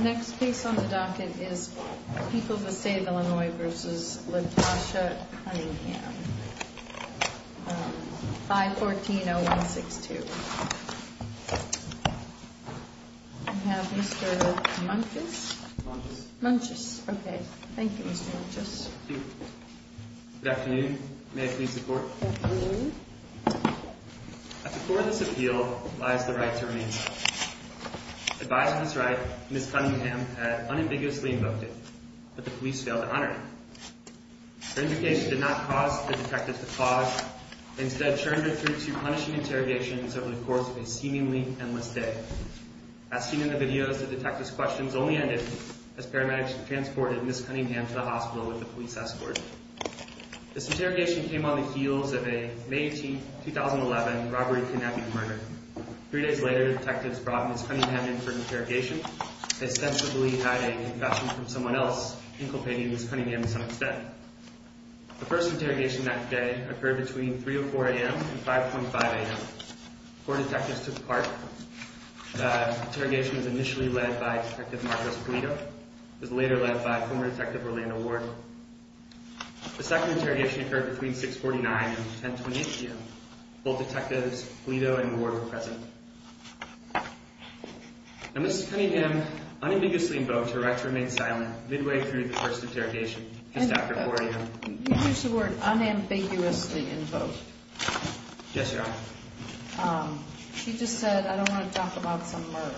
Next case on the docket is People v. State of Illinois v. LaTosha Cunningham 514-0162 We have Mr. Munches Munches Munches, okay, thank you Mr. Munches Good afternoon, may I please report? Good afternoon At the core of this appeal lies the right to remain silent Advising his right, Ms. Cunningham had unambiguously invoked it But the police failed to honor it Her indication did not cause the detective to pause Instead turned her through to punishing interrogations over the course of a seemingly endless day As seen in the videos, the detective's questions only ended As paramedics transported Ms. Cunningham to the hospital with the police escort This interrogation came on the heels of a May 18, 2011, robbery, kidnapping, and murder Three days later, detectives brought Ms. Cunningham in for interrogation Ostensibly hiding a confession from someone else, inculpating Ms. Cunningham in some extent The first interrogation that day occurred between 3 or 4 a.m. and 5.5 a.m. Four detectives took part The interrogation was initially led by Detective Marcos Pulido It was later led by former Detective Orlando Ward The second interrogation occurred between 6.49 and 10.28 a.m. Both detectives, Pulido and Ward, were present Ms. Cunningham unambiguously invoked her right to remain silent midway through the first interrogation Just after 4 a.m. You used the word unambiguously invoked Yes, Your Honor She just said, I don't want to talk about some murder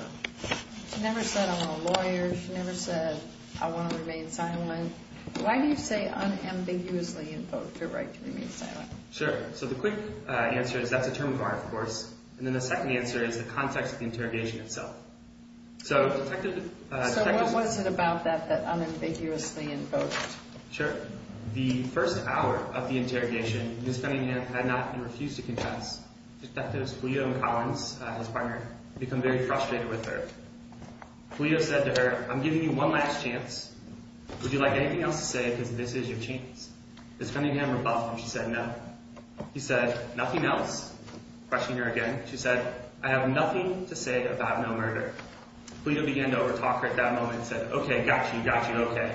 She never said, I want a lawyer She never said, I want to remain silent Why do you say unambiguously invoked her right to remain silent? Sure, so the quick answer is that's a term of art, of course And then the second answer is the context of the interrogation itself So what was it about that that unambiguously invoked? Sure The first hour of the interrogation, Ms. Cunningham had not and refused to confess Detectives Pulido and Collins, his partner, become very frustrated with her Pulido said to her, I'm giving you one last chance Would you like anything else to say because this is your chance? Ms. Cunningham rebuffed him, she said, no He said, nothing else? Questioning her again, she said, I have nothing to say about no murder Pulido began to overtalk her at that moment and said, OK, got you, got you, OK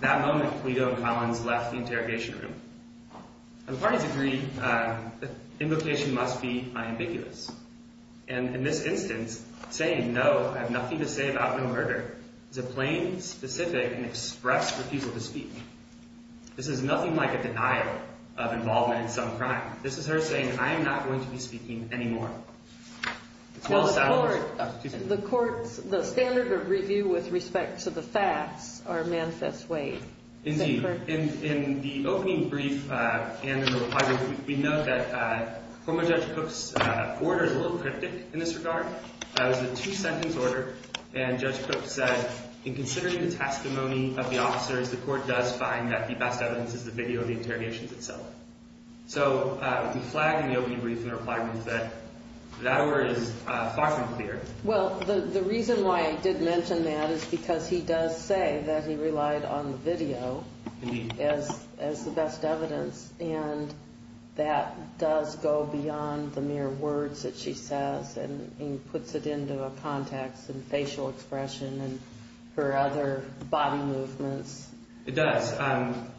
That moment, Pulido and Collins left the interrogation room And the parties agreed that invocation must be unambiguous And in this instance, saying no, I have nothing to say about no murder is a plain, specific, and express refusal to speak This is nothing like a denial of involvement in some crime This is her saying, I am not going to be speaking anymore It's well established The court's standard of review with respect to the facts are manifest ways Indeed In the opening brief and in the reply brief, we note that former Judge Cook's order is a little cryptic in this regard It was a two-sentence order, and Judge Cook said that in considering the testimony of the officers, the court does find that the best evidence is the video of the interrogations itself So, we flagged in the opening brief and reply brief that that order is far from clear Well, the reason why I did mention that is because he does say that he relied on the video Indeed as the best evidence, and that does go beyond the mere words that she says and puts it into a context and facial expression and her other body movements It does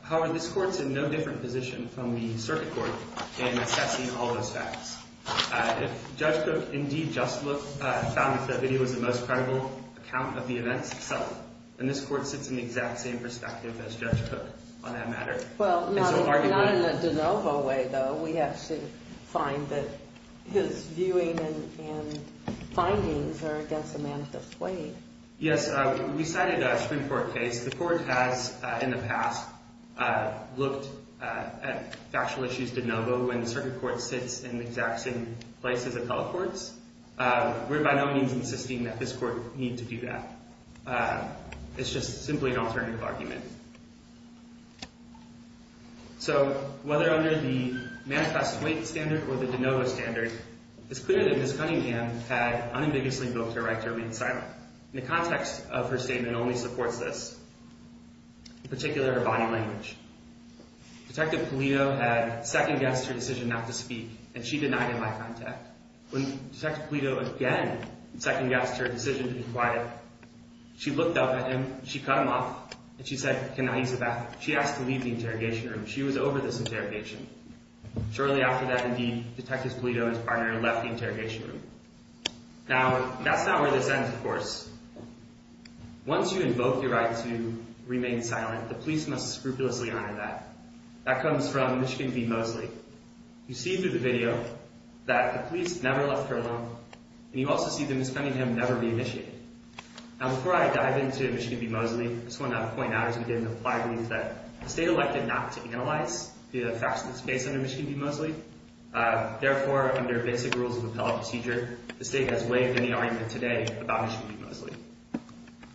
However, this court's in no different position from the circuit court in assessing all those facts If Judge Cook indeed just found that the video was the most credible account of the events itself, then this court sits in the exact same perspective as Judge Cook on that matter Well, not in a de novo way, though We actually find that his viewing and findings are against Amanda's way Yes, we cited a Supreme Court case The court has, in the past, looked at factual issues de novo when the circuit court sits in the exact same place as appellate courts We're by no means insisting that this court need to do that It's just simply an alternative argument So, whether under the manifest weight standard or the de novo standard it's clear that Ms. Cunningham had unambiguously voked her right to remain silent The context of her statement only supports this in particular, her body language Detective Polito had second-guessed her decision not to speak and she denied him eye contact When Detective Polito again second-guessed her decision to be quiet she looked up at him, she cut him off and she said, she asked to leave the interrogation room She was over this interrogation Shortly after that, indeed, Detective Polito and his partner left the interrogation room Now, that's not where this ends, of course Once you invoke your right to remain silent the police must scrupulously honor that That comes from Michigan v. Mosley You see through the video that the police never left her alone and you also see that Ms. Cunningham never reinitiated Now, before I dive into Michigan v. Mosley I just want to point out that we have an implied belief that the state elected not to analyze the facts of this case under Michigan v. Mosley Therefore, under basic rules of appellate procedure the state has waived any argument today about Michigan v. Mosley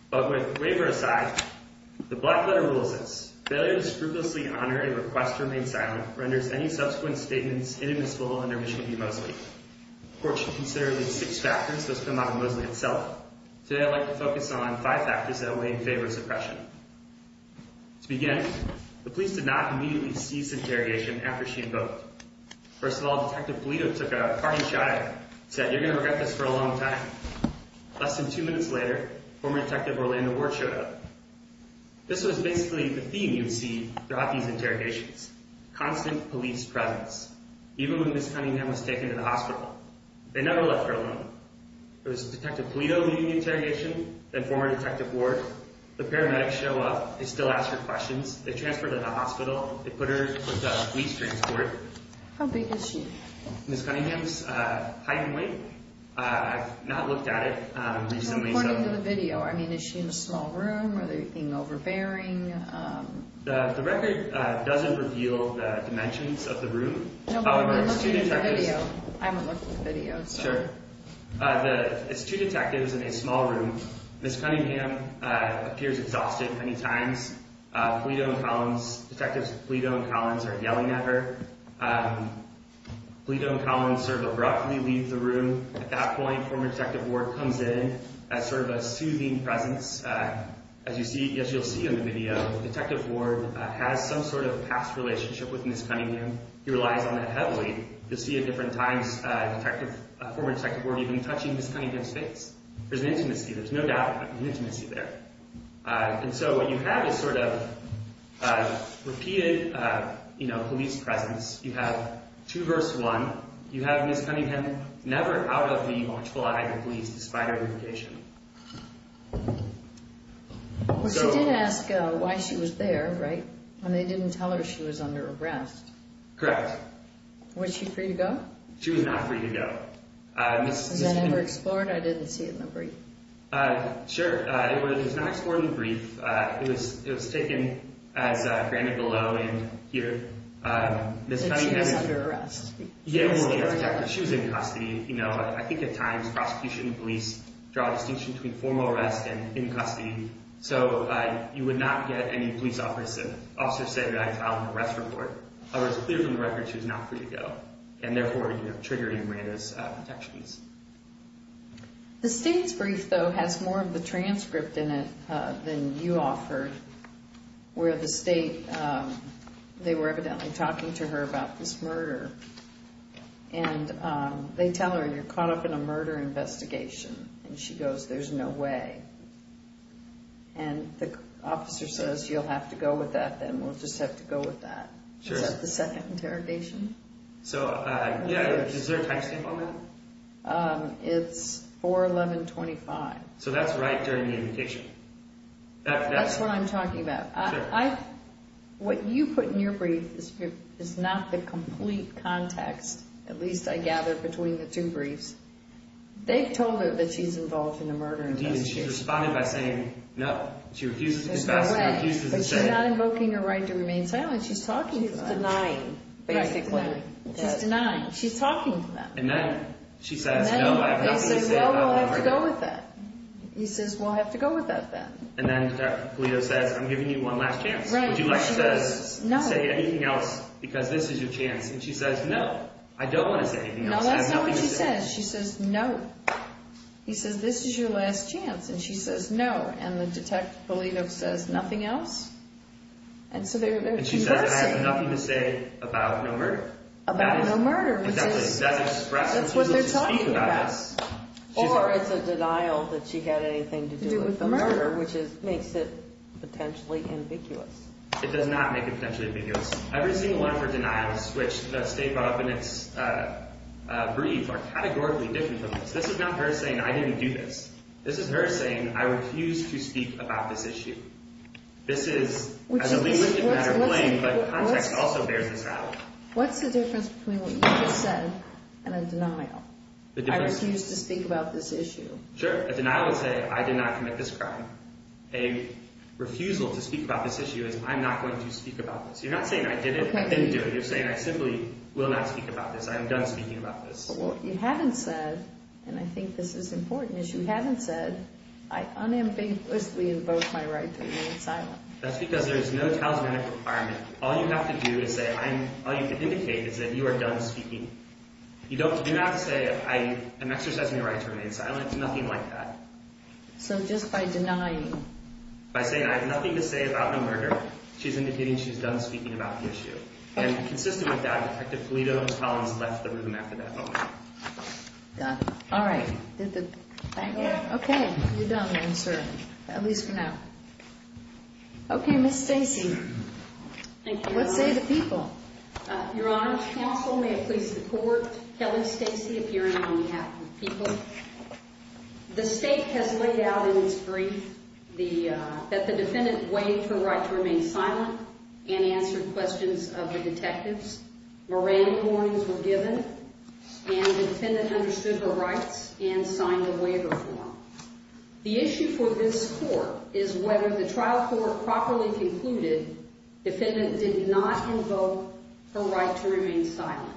But with the waiver aside the black-letter rule says Failure to scrupulously honor a request to remain silent renders any subsequent statements inadmissible under Michigan v. Mosley Of course, you consider the six factors that come out of Mosley itself Today, I'd like to focus on five factors that weigh in favor of suppression To begin, the police did not immediately cease interrogation after she invoked First of all, Detective Polito took a hearty shot at her and said, you're going to regret this for a long time Less than two minutes later, former Detective Orlando Ward showed up This was basically the theme you'd see throughout these interrogations Constant police presence Even when Ms. Cunningham was taken to the hospital They never left her alone It was Detective Polito leading the interrogation Then former Detective Ward The paramedics show up They still ask her questions They transfer her to the hospital They put her in police transport How big is she? Ms. Cunningham's height and weight I've not looked at it recently According to the video, I mean, is she in a small room? Are they being overbearing? The record doesn't reveal the dimensions of the room No, but we're looking at the video I haven't looked at the video, so It's two detectives in a small room Ms. Cunningham appears exhausted many times Polito and Collins Detectives Polito and Collins are yelling at her Polito and Collins sort of abruptly leave the room At that point, former Detective Ward comes in as sort of a soothing presence As you'll see in the video Detective Ward has some sort of past relationship with Ms. Cunningham He relies on that heavily You'll see at different times Former Detective Ward even touching Ms. Cunningham's face There's an intimacy, there's no doubt There's an intimacy there And so what you have is sort of repeated police presence You have two versus one You have Ms. Cunningham never out of the watchful eye of the police despite her identification She did ask why she was there, right? When they didn't tell her she was under arrest Correct Was she free to go? She was not free to go Was that ever explored? I didn't see it in the brief Sure, it was not explored in the brief It was taken as granted below and here Ms. Cunningham She was under arrest Yes, she was in custody I think at times prosecution and police draw a distinction between formal arrest and in custody So you would not get any police officer say that I filed an arrest report However, it's clear from the record she was not free to go and therefore, you know, triggering Miranda's protections The state's brief though has more of the transcript in it than you offered where the state they were evidently talking to her about this murder and they tell her you're caught up in a murder investigation and she goes there's no way and the officer says you'll have to go with that then we'll just have to go with that Is that the second interrogation? So, yeah, is there a time stamp on that? It's 4-11-25 So that's right during the invocation That's what I'm talking about What you put in your brief is not the complete context at least I gather between the two briefs They've told her that she's involved in a murder investigation She's responded by saying no She refuses to discuss, she refuses to say But she's not invoking her right to remain silent She's talking to them She's denying, basically She's denying, she's talking to them And then she says no They say no, we'll have to go with that He says we'll have to go with that then And then Detective Polito says I'm giving you one last chance Would you like to say anything else? Because this is your chance And she says no, I don't want to say anything else No, that's not what she says She says no He says this is your last chance And she says no And the Detective Polito says nothing else And so they're conversing And she says I have nothing to say about no murder About no murder Because that's what they're talking about Or it's a denial that she had anything to do with the murder which makes it potentially ambiguous It does not make it potentially ambiguous Every single one of her denials which the State brought up in its brief are categorically different from this This is not her saying I didn't do this This is her saying I refuse to speak about this issue This is a linguistic matter of blame but context also bears this out What's the difference between what you just said and a denial? I refuse to speak about this issue Sure, a denial would say I did not commit this crime A refusal to speak about this issue is I'm not going to speak about this You're not saying I didn't do it You're saying I simply will not speak about this I am done speaking about this But what you haven't said and I think this is important is you haven't said I unambiguously invoke my right to remain silent That's because there's no talismanic requirement All you have to do is say All you can indicate is that you are done speaking You don't have to say I am exercising my right to remain silent It's nothing like that So just by denying By saying I have nothing to say about the murder She's indicating she's done speaking about the issue And consistent with that Detective Felito Collins left the room after that moment All right Okay, you're done then, sir At least for now Okay, Ms. Stacy Thank you What say the people? Your Honor, counsel, may it please the court Kelly Stacy, appearing on behalf of the people The state has laid out in its brief that the defendant waived her right to remain silent and answered questions of the detectives Moran coins were given and the defendant understood her rights and signed a waiver form The issue for this court is whether the trial court properly concluded defendant did not invoke her right to remain silent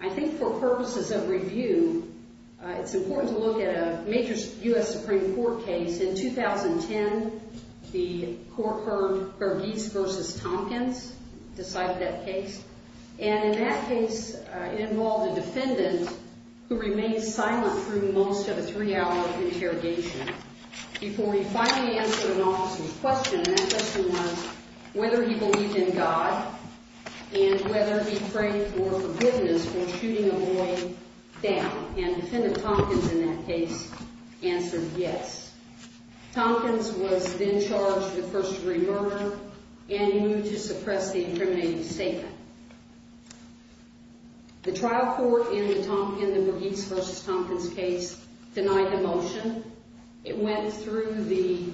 I think for purposes of review it's important to look at a major U.S. Supreme Court case In 2010, the court heard Berghese v. Tompkins decided that case And in that case it involved a defendant who remained silent through most of a three-hour interrogation before he finally answered an officer's question And that question was whether he believed in God and whether he prayed for forgiveness for shooting a boy down And defendant Tompkins in that case answered yes Tompkins was then charged with first-degree murder and he moved to suppress the incriminating statement The trial court in the Berghese v. Tompkins case denied the motion It went through the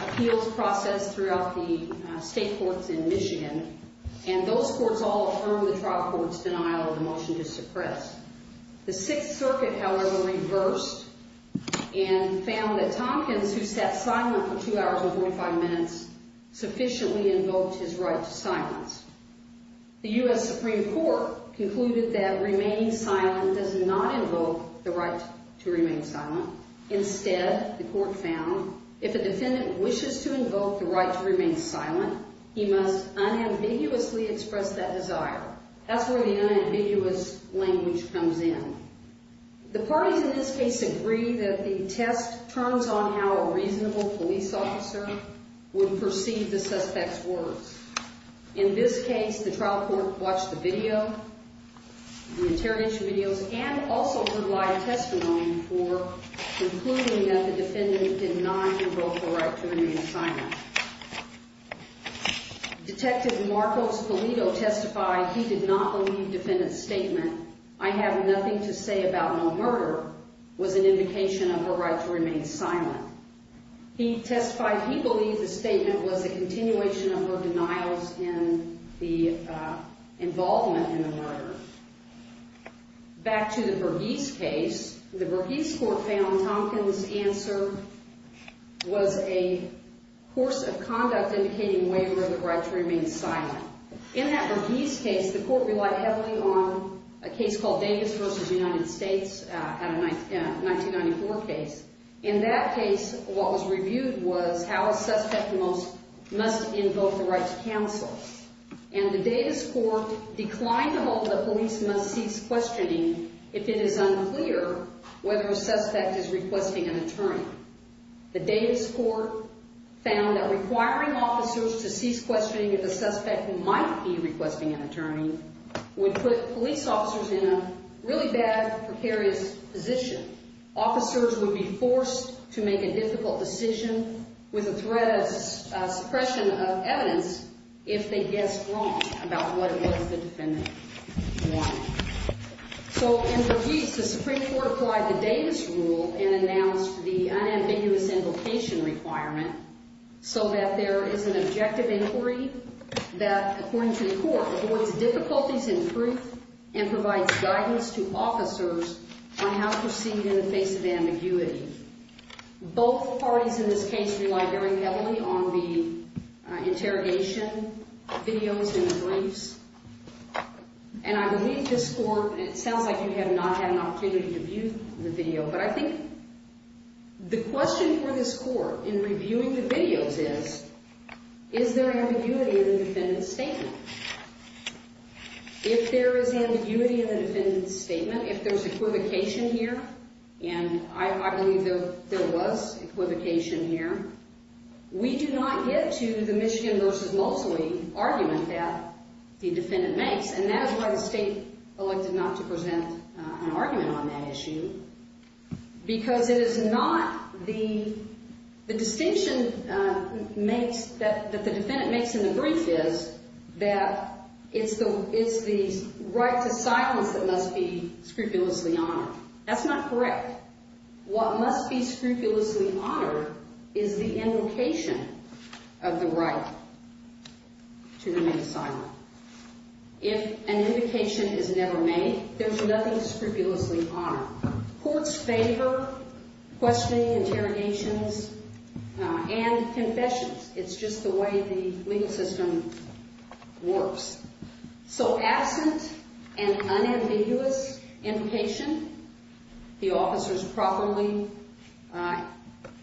appeals process throughout the state courts in Michigan And those courts all affirmed the trial court's denial of the motion to suppress The Sixth Circuit, however, reversed and found that Tompkins, who sat silent for 2 hours and 45 minutes sufficiently invoked his right to silence The U.S. Supreme Court concluded that remaining silent does not invoke the right to remain silent Instead, the court found if a defendant wishes to invoke the right to remain silent he must unambiguously express that desire That's where the unambiguous language comes in The parties in this case agree that the test turns on how a reasonable police officer would perceive the suspect's words In this case, the trial court watched the video the interrogation videos and also provided testimony for concluding that the defendant did not invoke the right to remain silent Detective Marcos Polito testified he did not believe defendant's statement I have nothing to say about no murder was an indication of the right to remain silent He testified he believed the statement was a continuation of her denials in the involvement in the murder Back to the Berghese case The Berghese court found Tompkins' answer was a course of conduct indicating waiver of the right to remain silent In that Berghese case, the court relied heavily on a case called Davis v. United States a 1994 case In that case, what was reviewed was how a suspect must invoke the right to cancel And the Davis court declined to hold that police must cease questioning if it is unclear whether a suspect is requesting an attorney The Davis court found that requiring officers to cease questioning if a suspect might be requesting an attorney would put police officers in a really bad, precarious position Officers would be forced to make a difficult decision with the threat of suppression of evidence if they guessed wrong about what the defendant wanted So, in Berghese, the Supreme Court applied the Davis rule and announced the unambiguous invocation requirement so that there is an objective inquiry that, according to the court, avoids difficulties in proof and provides guidance to officers on how to proceed in the face of ambiguity Both parties in this case relied very heavily on the interrogation videos and the briefs And I believe this court It sounds like you have not had an opportunity to view the video, but I think the question for this court in reviewing the videos is If there is ambiguity in the defendant's statement If there is equivocation here And I believe there was equivocation here We do not get to the Michigan v. Mosley argument that the defendant makes And that is why the state elected not to present an argument on that issue Because it is not the The distinction that the defendant makes in the brief is that it is the right to silence that must be scrupulously honored That is not correct What must be scrupulously honored is the invocation of the right to remain silent If an invocation is never made there is nothing scrupulously honored Courts favor questioning, interrogations and confessions It is just the way the legal system works So absent an unambiguous invocation the officers properly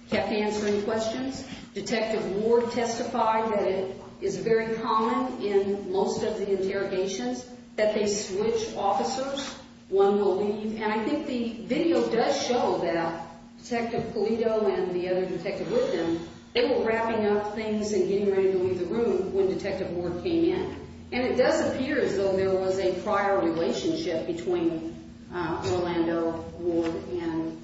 kept answering questions Detective Ward testified that it is very common in most of the interrogations that they switch officers One will leave And I think the video does show that Detective Pulido and the other detective with him They were wrapping up things and getting ready to leave the room when Detective Ward came in And it does appear as though there was a prior relationship between Orlando Ward and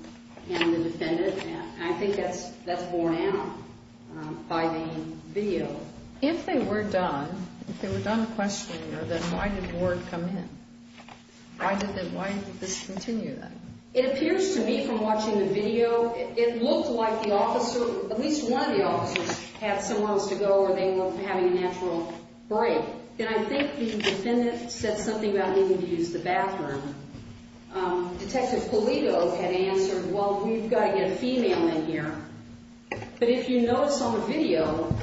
the defendant And I think that is borne out by the video If they were done If they were done questioning her then why did Ward come in? Why did this continue then? It appears to me from watching the video It looked like the officer at least one of the officers had somewhere else to go or they were having a natural break And I think the defendant said something about needing to use the bathroom Detective Pulido had answered Well, you've got to get a female in here But if you notice on the video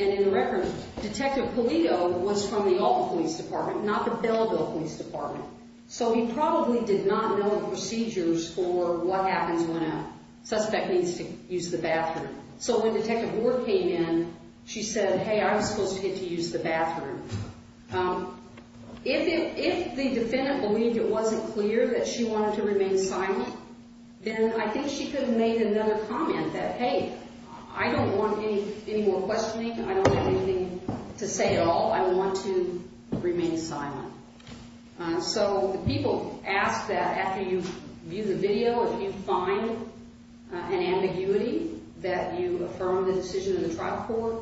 and in the record Detective Pulido was from the Alba Police Department not the Belleville Police Department So he probably did not know the procedures for what happens when a suspect needs to use the bathroom So when Detective Ward came in she said, hey, I'm supposed to get to use the bathroom If the defendant believed it wasn't clear that she wanted to remain silent then I think she could have made another comment that, hey, I don't want any more questioning I don't have anything to say at all I want to remain silent So the people asked that after you view the video if you find an ambiguity that you affirm the decision in the trial court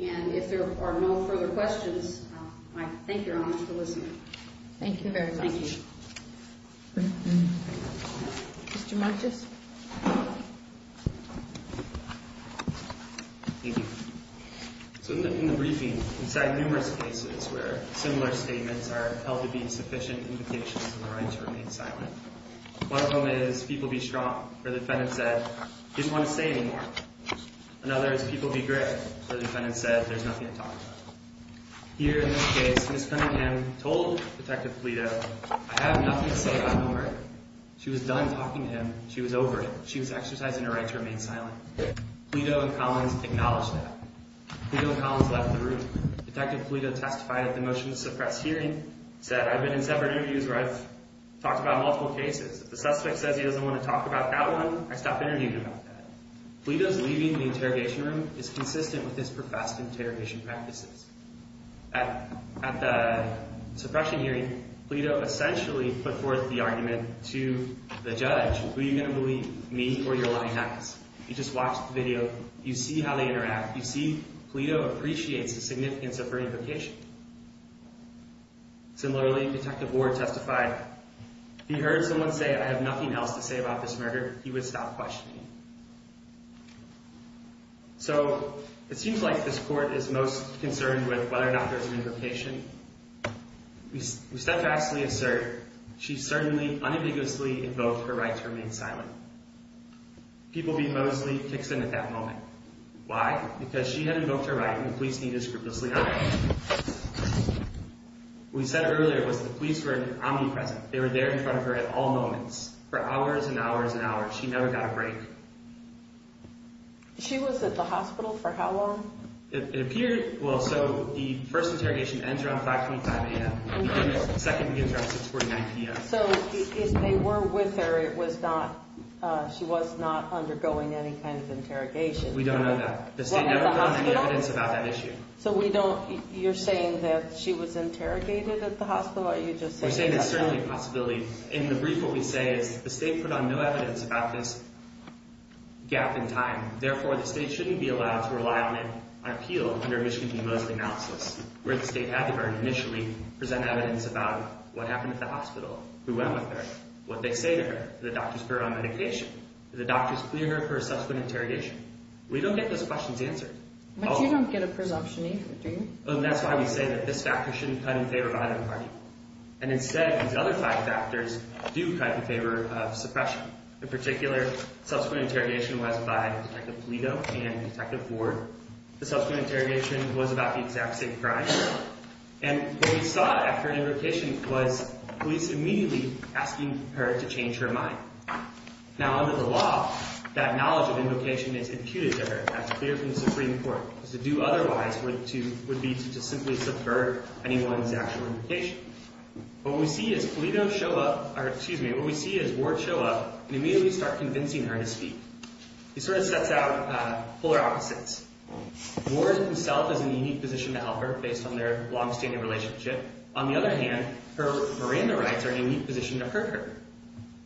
And if there are no further questions I thank your Honor for listening Thank you very much Thank you Mr. Martius Thank you So in the briefing inside numerous cases where similar statements are held to be sufficient indications of the right to remain silent One of them is people be strong where the defendant said I didn't want to say anymore Another is people be great where the defendant said there's nothing to talk about Here in this case Ms. Cunningham told Detective Pulido I have nothing to say about homework She was done talking to him She was over it She was exercising her right to remain silent Pulido and Collins acknowledged that Pulido and Collins left the room Detective Pulido testified at the motion to suppress hearing said I've been in several interviews where I've talked about multiple cases If the suspect says he doesn't want to talk about that one I stop interviewing him about that Pulido's leaving the interrogation room is consistent with his professed interrogation practices At the suppression hearing Pulido essentially put forth the argument to the judge Who are you going to believe? Me or your lying ass? You just watch the video You see how they interact You see Pulido appreciates the significance of her invocation Similarly, Detective Ward testified If he heard someone say I have nothing else to say about this murder he would stop questioning So, it seems like this court is most concerned with whether or not there's an invocation We steadfastly assert she certainly unambiguously invoked her right to remain silent People being mostly Kixon at that moment Why? Because she had invoked her right and the police needed to scrupulously hide What we said earlier was the police were omnipresent They were there in front of her at all moments for hours and hours and hours She never got a break She was at the hospital for how long? It appeared... Well, so, the first interrogation ends around 5.25 a.m. The second begins around 6.49 p.m. So, if they were with her it was not... She was not undergoing any kind of interrogation We don't know that The state never put on any evidence about that issue So, we don't... You're saying that she was interrogated at the hospital or you're just saying... We're saying it's certainly a possibility In the brief, what we say is the state put on no evidence about this gap in time Therefore, the state shouldn't be allowed to rely on an appeal under Michigan v. Mosley analysis where the state had to very initially present evidence about what happened at the hospital who went with her what they say to her did the doctors put her on medication? did the doctors clear her for a subsequent interrogation? We don't get those questions answered But you don't get a presumption either, do you? That's why we say that this factor shouldn't cut in favor of either party And instead, these other five factors do cut in favor of suppression In particular, subsequent interrogation was by Detective Polito and Detective Ford The subsequent interrogation was about the exact same crime And what we saw after an invocation was police immediately asking her to change her mind Now, under the law that knowledge of invocation is imputed to her That's clear from the Supreme Court Because to do otherwise would be to simply subvert anyone's actual invocation What we see is Polito show up or, excuse me What we see is Ward show up and immediately start convincing her to speak He sort of sets out polar opposites Ward himself is in a unique position to help her based on their long-standing relationship On the other hand Her Miranda rights are in a unique position to hurt her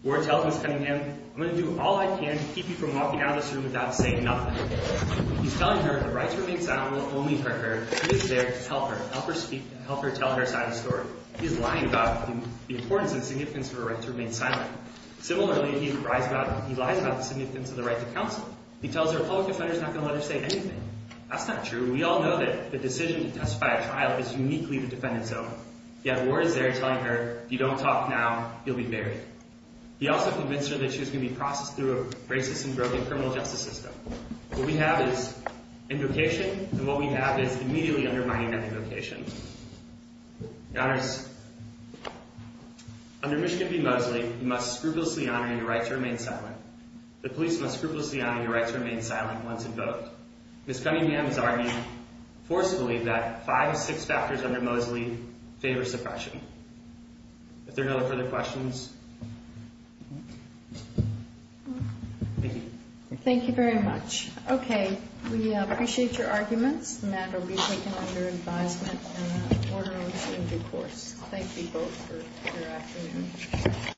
Ward tells Ms. Cunningham I'm going to do all I can to keep you from walking out of this room without saying nothing He's telling her the rights remain silent and will only hurt her He is there to help her help her speak and help her tell her side of the story He is lying about the importance and significance of her right to remain silent Similarly, he lies about the significance of the right to counsel He tells her a public defender is not going to let her say anything That's not true We all know that the decision to testify at trial is uniquely the defendant's own Yet Ward is there telling her If you don't talk now you'll be buried He also convinced her that she was going to be processed through a racist and broken criminal justice system What we have is invocation and what we have is immediately undermining that invocation Your Honors Under Michigan v. Mosley you must scrupulously honor your right to remain silent The police must scrupulously honor your right to remain silent once invoked Ms. Cunningham has argued forcefully that five of six factors under Mosley favor suppression If there are no further questions Thank you Thank you very much Okay We appreciate your arguments and that will be taken under advisement in an orderly and due course Thank you both for your afternoon